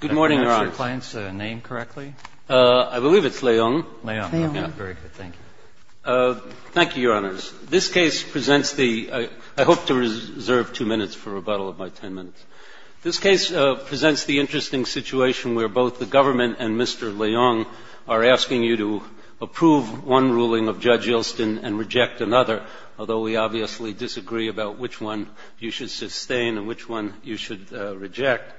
I hope to reserve two minutes for rebuttal of my 10 minutes. This case presents the interesting situation where both the government and Mr. Leung are asking you to approve one ruling of Judge Ilston and reject another, although we obviously disagree about which one you should sustain and which one you should reject.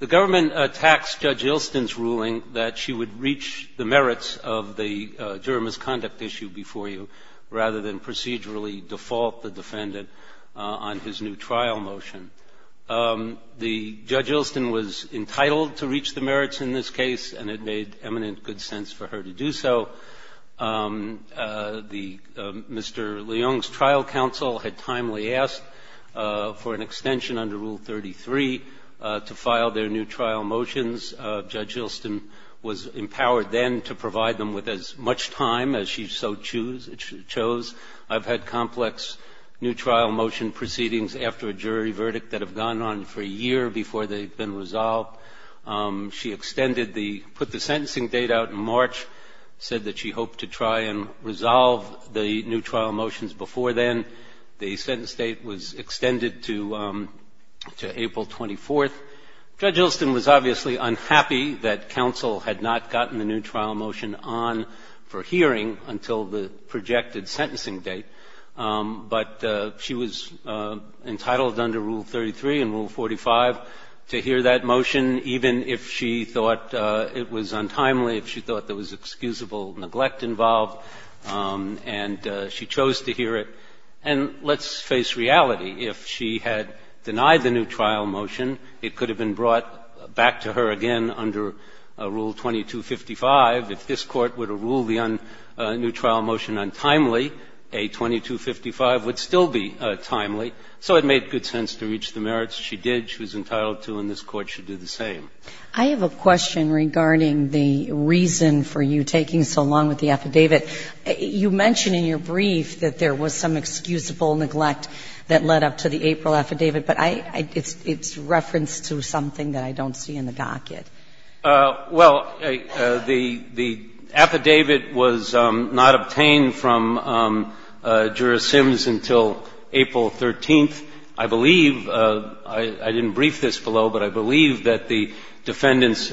The government attacks Judge Ilston's ruling that she would reach the merits of the juror misconduct issue before you rather than procedurally default the defendant on his new trial motion. The Judge Ilston was entitled to reach the merits in this case and it made eminent good for an extension under Rule 33 to file their new trial motions. Judge Ilston was empowered then to provide them with as much time as she so chose. I've had complex new trial motion proceedings after a jury verdict that have gone on for a year before they've been resolved. She extended the, put the sentencing date out in March, said that she hoped to try and resolve the new trial motions before then. The sentence date was extended to April 24th. Judge Ilston was obviously unhappy that counsel had not gotten the new trial motion on for hearing until the projected sentencing date, but she was entitled under Rule 33 and Rule 45 to hear that motion even if she thought it was untimely, if she thought there was excusable neglect involved, and she chose to hear it. And let's face reality. If she had denied the new trial motion, it could have been brought back to her again under Rule 2255. If this Court were to rule the new trial motion untimely, a 2255 would still be timely. So it made good sense to reach the merits she did, she was entitled to, and this Court should do the same. I have a question regarding the reason for you taking so long with the affidavit. You mention in your brief that there was some excusable neglect that led up to the April affidavit, but I, it's referenced to something that I don't see in the docket. Well, the, the affidavit was not obtained from juror Sims until April 13th, I believe. I didn't brief this below, but I believe that the defendants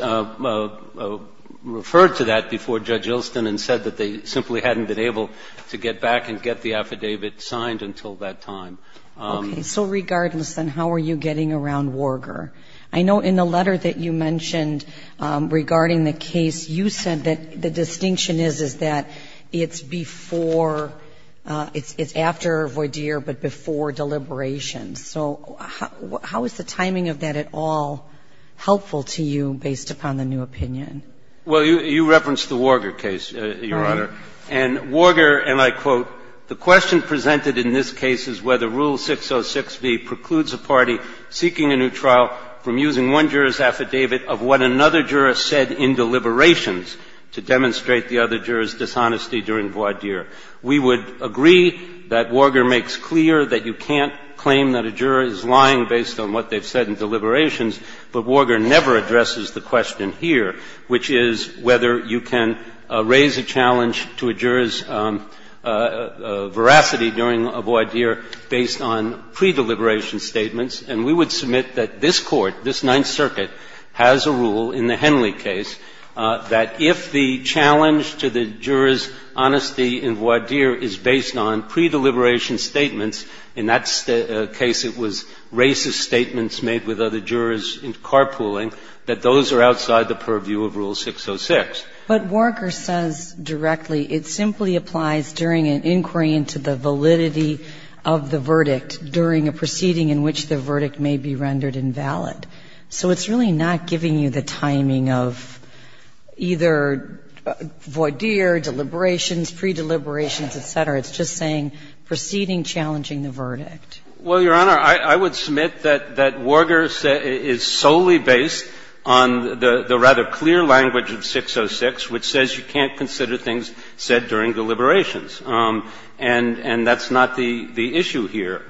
referred to that before Judge Ilston and said that they simply hadn't been able to get back and get the affidavit signed until that time. Okay. So regardless, then, how are you getting around Warger? I know in the letter that you mentioned regarding the case, you said that the distinction is, is that it's before, it's, it's after Voydier, but before deliberations. So how, how is the timing of that at all helpful to you based upon the new opinion? Well, you, you referenced the Warger case, Your Honor, and Warger, and I quote, the question presented in this case is whether Rule 606B precludes a party seeking a new trial from using one juror's affidavit of what another juror said in deliberations to demonstrate the other juror's dishonesty during Voydier. We would agree that Warger makes clear that you can't claim that a juror is lying based on what they've said in deliberations, but Warger never addresses the question here, which is whether you can raise a challenge to a juror's veracity during a Voydier based on pre-deliberation statements, and we would submit that this Court, this Ninth the challenge to the juror's honesty in Voydier is based on pre-deliberation statements. In that case, it was racist statements made with other jurors in carpooling, that those are outside the purview of Rule 606. But Warger says directly it simply applies during an inquiry into the validity of the verdict during a proceeding in which the verdict may be rendered invalid. So it's really not giving you the timing of either Voydier, deliberations, pre-deliberations, et cetera. It's just saying proceeding challenging the verdict. Well, Your Honor, I would submit that Warger is solely based on the rather clear language of 606, which says you can't consider things said during deliberations. And that's not the issue here.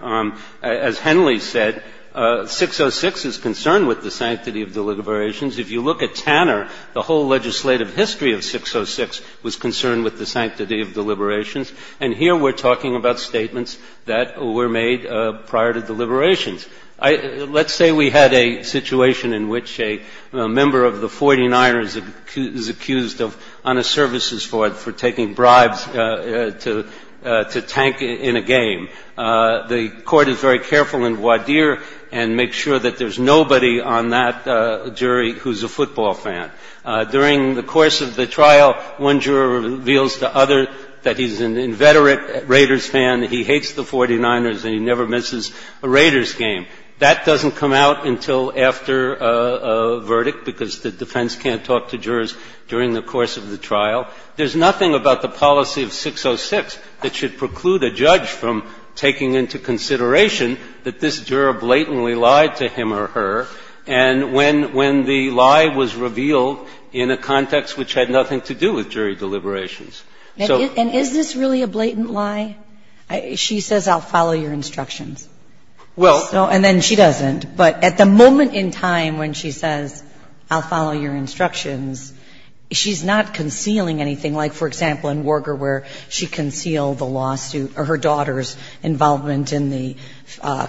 As Henley said, 606 is concerned with the sanctity of deliberations. If you look at Tanner, the whole legislative history of 606 was concerned with the sanctity of deliberations. And here we're talking about statements that were made prior to deliberations. Let's say we had a situation in which a member of the 49ers is accused of un-a-services for taking bribes to tank in a game. The Court is very careful in Voydier and makes sure that there's nobody on that jury who's a football fan. During the course of the trial, one juror reveals to others that he's an inveterate Raiders fan, he hates the 49ers, and he never misses a Raiders game. That doesn't come out until after a verdict because the defense can't talk to jurors during the course of the trial. There's nothing about the policy of 606 that should preclude a judge from taking into consideration that this juror blatantly lied to him or her, and when the lie was revealed in a context which had nothing to do with jury deliberations. So the question is, is this really a blatant lie? She says, I'll follow your instructions. And then she doesn't, but at the moment in time when she says, I'll follow your instructions, she's not doing anything like, for example, in Worger where she concealed the lawsuit or her daughter's involvement in the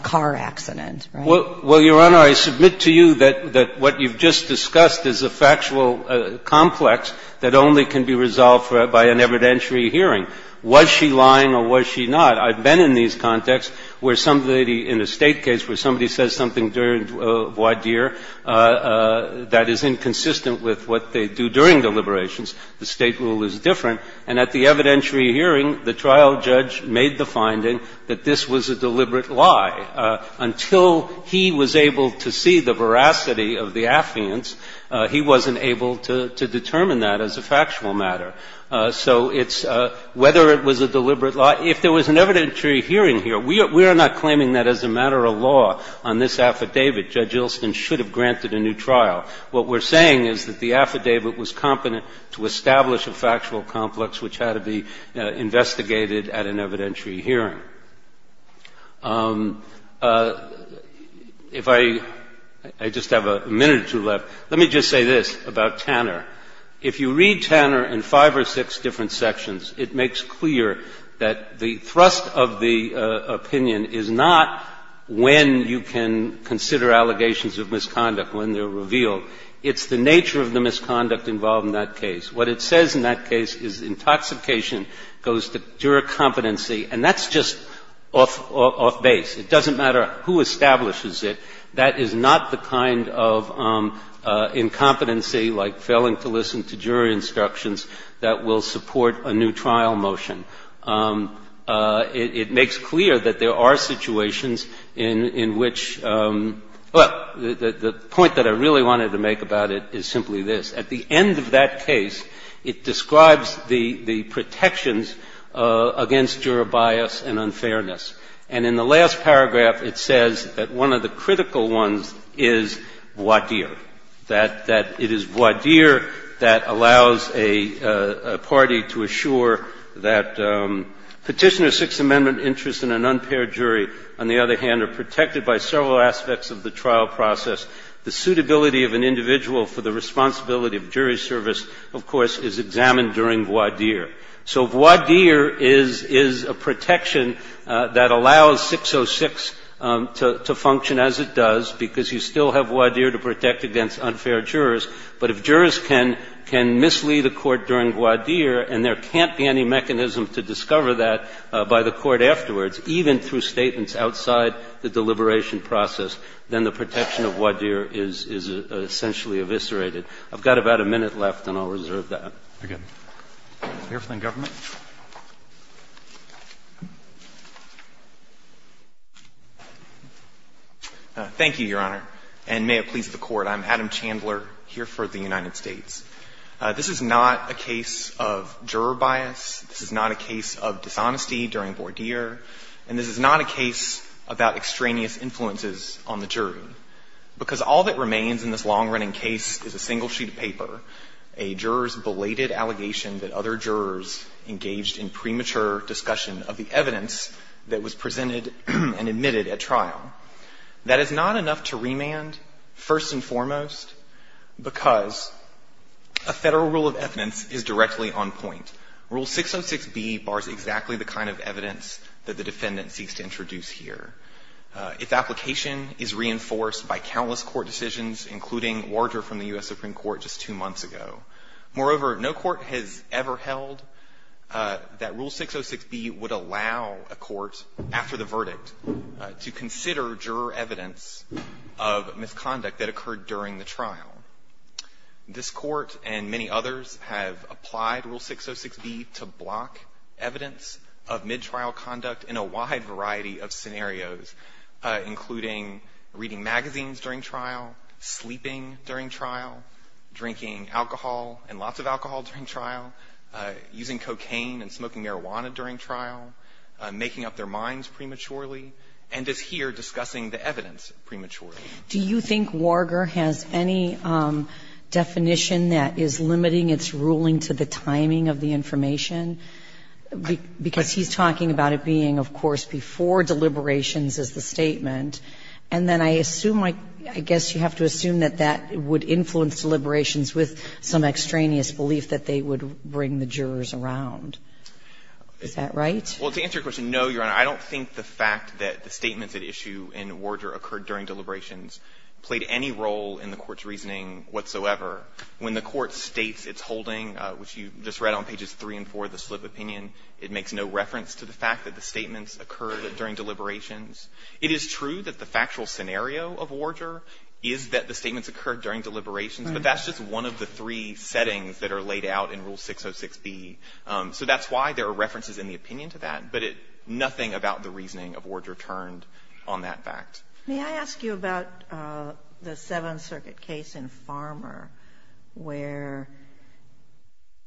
car accident, right? Well, Your Honor, I submit to you that what you've just discussed is a factual complex that only can be resolved by an evidentiary hearing. Was she lying or was she not? I've been in these contexts where somebody in a State case, where somebody says something during voir dire that is inconsistent with what they do during deliberations. The State rule is different. And at the evidentiary hearing, the trial judge made the finding that this was a deliberate lie. Until he was able to see the veracity of the affiance, he wasn't able to determine that as a factual matter. So it's – whether it was a deliberate lie – if there was an evidentiary hearing here, we are not claiming that as a matter of law on this affidavit. Judge Ilston should have granted a new trial. What we're saying is that the affidavit was competent to establish a factual complex which had to be investigated at an evidentiary hearing. If I – I just have a minute or two left. Let me just say this about Tanner. If you read Tanner in five or six different sections, it makes clear that the thrust of the opinion is not when you can consider allegations of misconduct, when they're revealed. It's the nature of the misconduct involved in that case. What it says in that case is intoxication goes to juror competency. And that's just off base. It doesn't matter who establishes it. That is not the kind of incompetency, like failing to listen to jury instructions, that will support a new trial motion. It makes clear that there are situations in which – well, the point that I really wanted to make about it is simply this. At the end of that case, it describes the protections against juror bias and unfairness. And in the last paragraph, it says that one of the critical ones is voir dire, that it is voir dire that allows a party to assure that Petitioner's Sixth Amendment interest in an unpaired jury, on the other hand, are protected by several aspects of the trial process. The suitability of an individual for the responsibility of jury service, of course, is examined during voir dire. So voir dire is a protection that allows 606 to function as it does, because you still have voir dire to protect against unfair jurors. But if jurors can mislead a court during voir dire, and there can't be any mechanism to discover that by the court afterwards, even through statements outside the deliberation process, then the protection of voir dire is essentially eviscerated. I've got about a minute left, and I'll reserve that. Roberts. Thank you, Your Honor. And may it please the Court, I'm Adam Chandler, here for the United States. This is not a case of juror bias, this is not a case of dishonesty during voir dire, and this is not a case about extraneous influences on the jury, because all that remains in this long-running case is a single sheet of paper, a juror's belated allegation that other jurors engaged in premature discussion of the evidence that was presented and admitted at trial. That is not enough to remand, first and foremost, because a federal rule of evidence is directly on point. Rule 606B bars exactly the kind of evidence that the defendant seeks to introduce here. Its application is reinforced by countless court decisions, including voir dire from the U.S. Supreme Court just two months ago. Moreover, no court has ever held that Rule 606B would allow a court, after the verdict, to consider juror evidence of misconduct that occurred during the trial. This Court and many others have applied Rule 606B to block evidence of mid-trial conduct in a wide variety of scenarios, including reading magazines during trial, sleeping during trial, drinking alcohol and lots of alcohol during trial, using cocaine and smoking marijuana during trial, making up their minds prematurely, and is here discussing the evidence prematurely. Do you think Warger has any definition that is limiting its ruling to the timing of the information? Because he's talking about it being, of course, before deliberations as the statement. And then I assume, I guess you have to assume that that would influence deliberations with some extraneous belief that they would bring the jurors around. Is that right? Well, to answer your question, no, Your Honor. I don't think the fact that the statements at issue in Warger occurred during deliberations played any role in the Court's reasoning whatsoever. When the Court states its holding, which you just read on pages 3 and 4 of the slip opinion, it makes no reference to the fact that the statements occurred during deliberations. It is true that the factual scenario of Warger is that the statements occurred during deliberations, but that's just one of the three settings that are laid out in Rule 606B. So that's why there are references in the opinion to that, but nothing about the reasoning of Warger turned on that fact. May I ask you about the Seventh Circuit case in Farmer where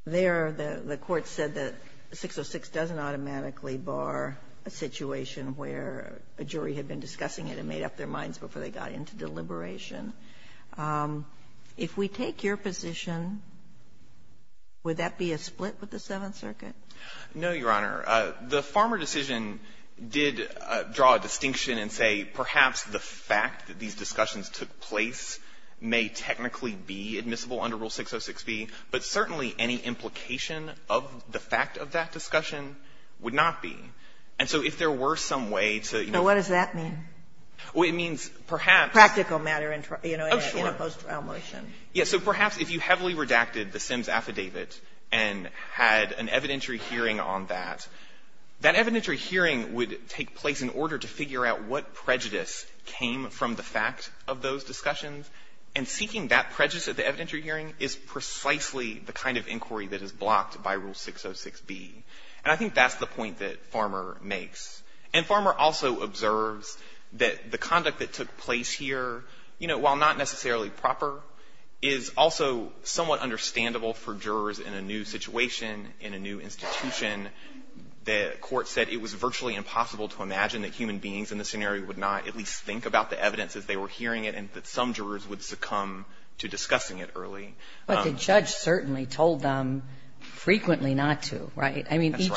there the court said that 606 doesn't automatically bar a situation where a jury had been discussing it and made up their minds before they got into deliberation. If we take your position, would that be a split with the Seventh Circuit? No, Your Honor. The Farmer decision did draw a distinction and say perhaps the fact that these discussions took place may technically be admissible under Rule 606B, but certainly any implication of the fact of that discussion would not be. And so if there were some way to, you know what does that mean? Well, it means perhaps Practical matter in a post-trial motion. Yes. So perhaps if you heavily redacted the Sims affidavit and had an evidentiary hearing on that, that evidentiary hearing would take place in order to figure out what prejudice came from the fact of those discussions, and seeking that prejudice at the evidentiary hearing is precisely the kind of inquiry that is blocked by Rule 606B. And I think that's the point that Farmer makes. And Farmer also observes that the conduct that took place here, you know, while not necessarily proper, is also somewhat understandable for jurors in a new situation, in a new institution. The court said it was virtually impossible to imagine that human beings in the scenario would not at least think about the evidence as they were hearing it, and that some jurors would succumb to discussing it early. But the judge certainly told them frequently not to, right? That's right. I mean,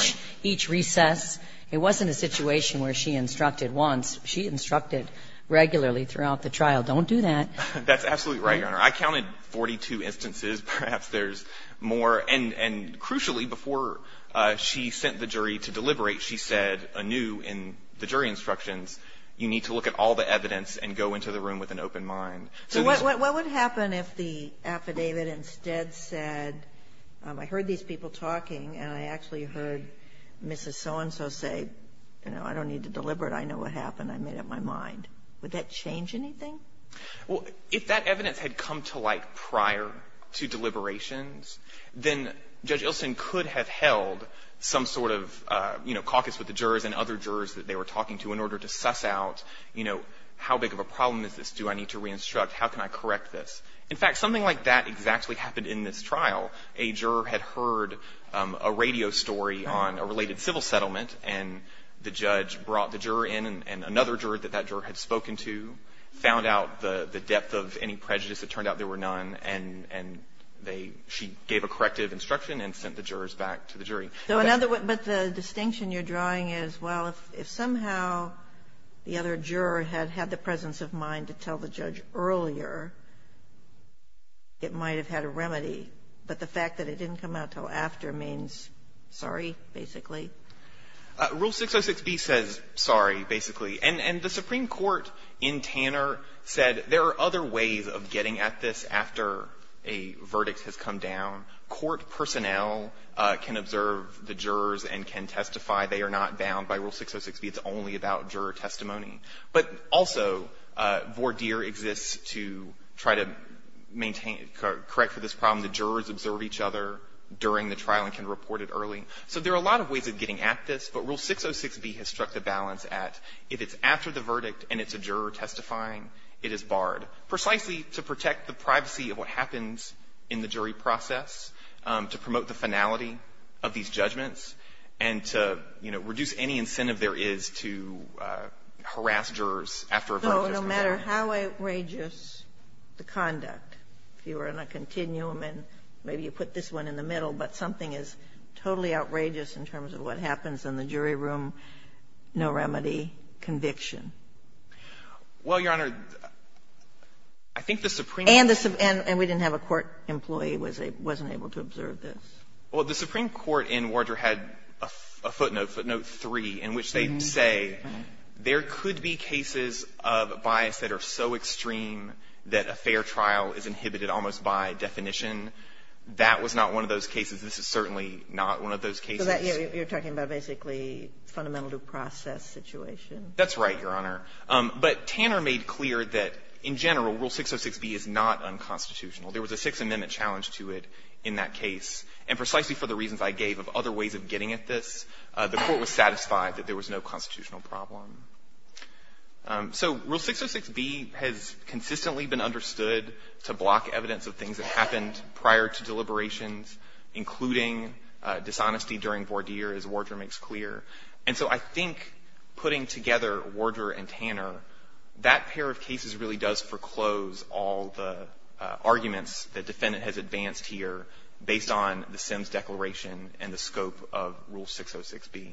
each recess, it wasn't a situation where she instructed once. She instructed regularly throughout the trial, don't do that. That's absolutely right, Your Honor. I counted 42 instances, perhaps there's more. And crucially, before she sent the jury to deliberate, she said anew in the jury instructions, you need to look at all the evidence and go into the room with an open mind. So what would happen if the affidavit instead said, I heard these people talking and I actually heard Mrs. So-and-so say, you know, I don't need to deliberate, I know what happened, I made up my mind. Would that change anything? Well, if that evidence had come to light prior to deliberations, then Judge Ilsen could have held some sort of, you know, caucus with the jurors and other jurors that they were talking to in order to suss out, you know, how big of a problem is this? Do I need to re-instruct? How can I correct this? In fact, something like that exactly happened in this trial. A juror had heard a radio story on a related civil settlement and the judge brought the juror in and another juror that that juror had spoken to found out the depth of any prejudice. It turned out there were none and they, she gave a corrective instruction and sent the jurors back to the jury. So another, but the distinction you're drawing is, well, if somehow the other juror had had the presence of mind to tell the judge earlier, it might have had a remedy. But the fact that it didn't come out until after means sorry, basically? Rule 606b says sorry, basically. And the Supreme Court, in Tanner, said there are other ways of getting at this after a verdict has come down. Court personnel can observe the jurors and can testify. They are not bound by Rule 606b. It's only about juror testimony. But also, voir dire exists to try to maintain, correct for this problem. The jurors observe each other during the trial and can report it early. So there are a lot of ways of getting at this, but Rule 606b has struck the balance at if it's after the verdict and it's a juror testifying, it is barred. Precisely to protect the privacy of what happens in the jury process, to promote the finality of these judgments, and to, you know, reduce any incentive there is to harass jurors after a verdict has come down. So no matter how outrageous the conduct, if you were in a continuum, and maybe you put this one in the middle, but something is totally outrageous in terms of what happens in the jury room, no remedy, conviction. Well, Your Honor, I think the Supreme Court And we didn't have a court employee who wasn't able to observe this. Well, the Supreme Court in voir dire had a footnote, footnote 3, in which they say there could be cases of bias that are so extreme that a fair trial is inhibited almost by definition. That was not one of those cases. This is certainly not one of those cases. So that you're talking about basically fundamental due process situation? That's right, Your Honor. But Tanner made clear that in general, Rule 606b is not unconstitutional. There was a Sixth Amendment challenge to it in that case. And the court was satisfied that there was no constitutional problem. So Rule 606b has consistently been understood to block evidence of things that happened prior to deliberations, including dishonesty during voir dire, as Warder makes clear. And so I think putting together Warder and Tanner, that pair of cases really does foreclose all the arguments that the defendant has advanced here based on the Sims Declaration and the scope of Rule 606b.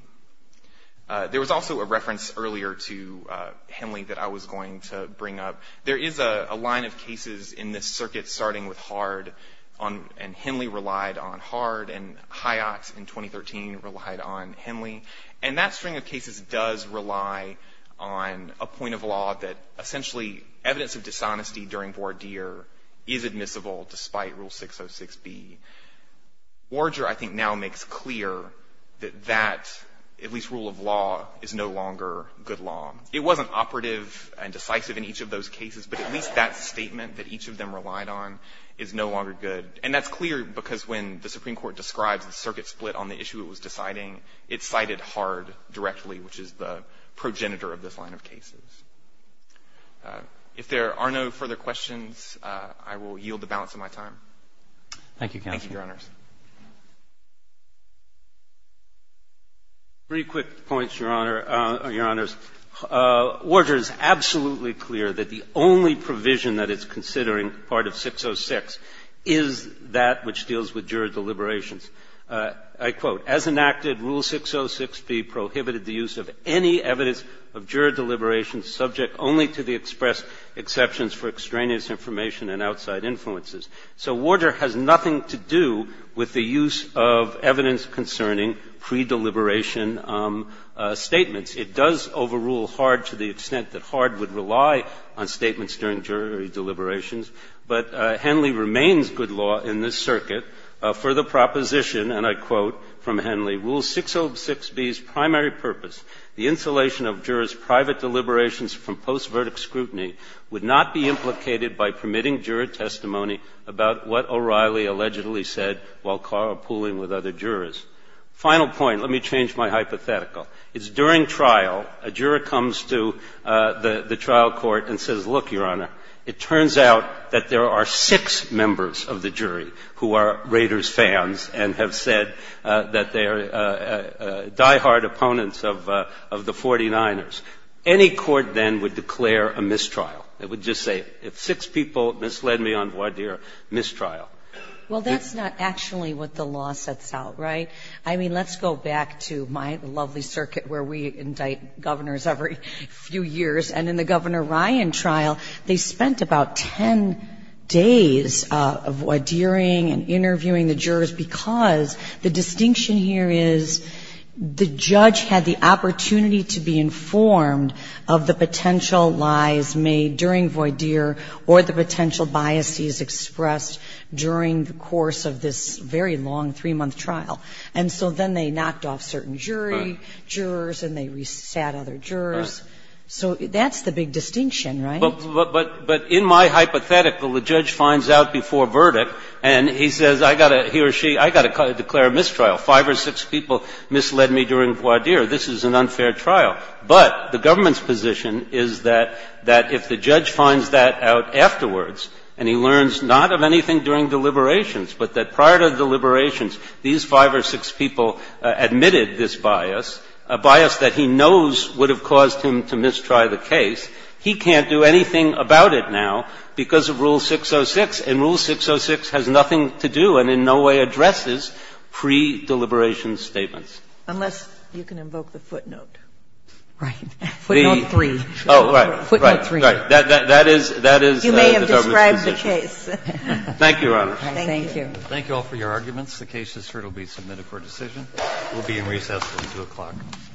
There was also a reference earlier to Henley that I was going to bring up. There is a line of cases in this circuit starting with Hard, and Henley relied on Hard, and Hyatt in 2013 relied on Henley. And that string of cases does rely on a point of law that essentially evidence of dishonesty during voir dire is admissible despite Rule 606b. Warder, I think, now makes clear that that, at least rule of law, is no longer good law. It wasn't operative and decisive in each of those cases, but at least that statement that each of them relied on is no longer good. And that's clear because when the Supreme Court describes the circuit split on the issue it was deciding, it cited Hard directly, which is the progenitor of this line of cases. If there are no further questions, I will yield the balance of my time. Thank you, counsel. Thank you, Your Honors. Three quick points, Your Honor or Your Honors. Warder is absolutely clear that the only provision that is considering part of 606 is that which deals with juror deliberations. I quote, As enacted, Rule 606b prohibited the use of any evidence of juror deliberations subject only to the expressed exceptions for extraneous information and outside influences. So Warder has nothing to do with the use of evidence concerning pre-deliberation statements. It does overrule Hard to the extent that Hard would rely on statements during jury deliberations. But Henley remains good law in this circuit for the proposition, and I quote from Henley, Rule 606b's primary purpose, the insulation of jurors' private deliberations from post-verdict scrutiny would not be implicated by permitting juror testimony about what O'Reilly allegedly said while carpooling with other jurors. Final point, let me change my hypothetical. It's during trial, a juror comes to the trial court and says, look, Your Honor, it turns out that there are six members of the jury who are Raiders fans and have said that they are diehard opponents of the 49ers. Any court then would declare a mistrial. It would just say, if six people misled me on Warder, mistrial. Well, that's not actually what the law sets out, right? I mean, let's go back to my lovely circuit where we indict governors every few years, and in the Governor Ryan trial, they spent about 10 days of Wardering and interviewing the jurors because the distinction here is the judge had the opportunity to be informed of the potential lies made during Warder or the potential biases expressed during the course of this very long three-month trial. And so then they knocked off certain jury, jurors, and they re-sat other jurors. So that's the big distinction, right? But in my hypothetical, the judge finds out before verdict and he says, I got to he or she, I got to declare a mistrial. Five or six people misled me during Warder. This is an unfair trial. But the government's position is that if the judge finds that out afterwards and he learns not of anything during deliberations, but that prior to deliberations these five or six people admitted this bias, a bias that he knows would have caused him to mistry the case, he can't do anything about it now because of Rule 606. And Rule 606 has nothing to do and in no way addresses pre-deliberation statements. Unless you can invoke the footnote. Right. Footnote 3. Oh, right. Footnote 3. That is the government's position. You may have described the case. Thank you, Your Honor. Thank you. Thank you all for your arguments. The case is here to be submitted for decision. We'll be in recess until 2 o'clock.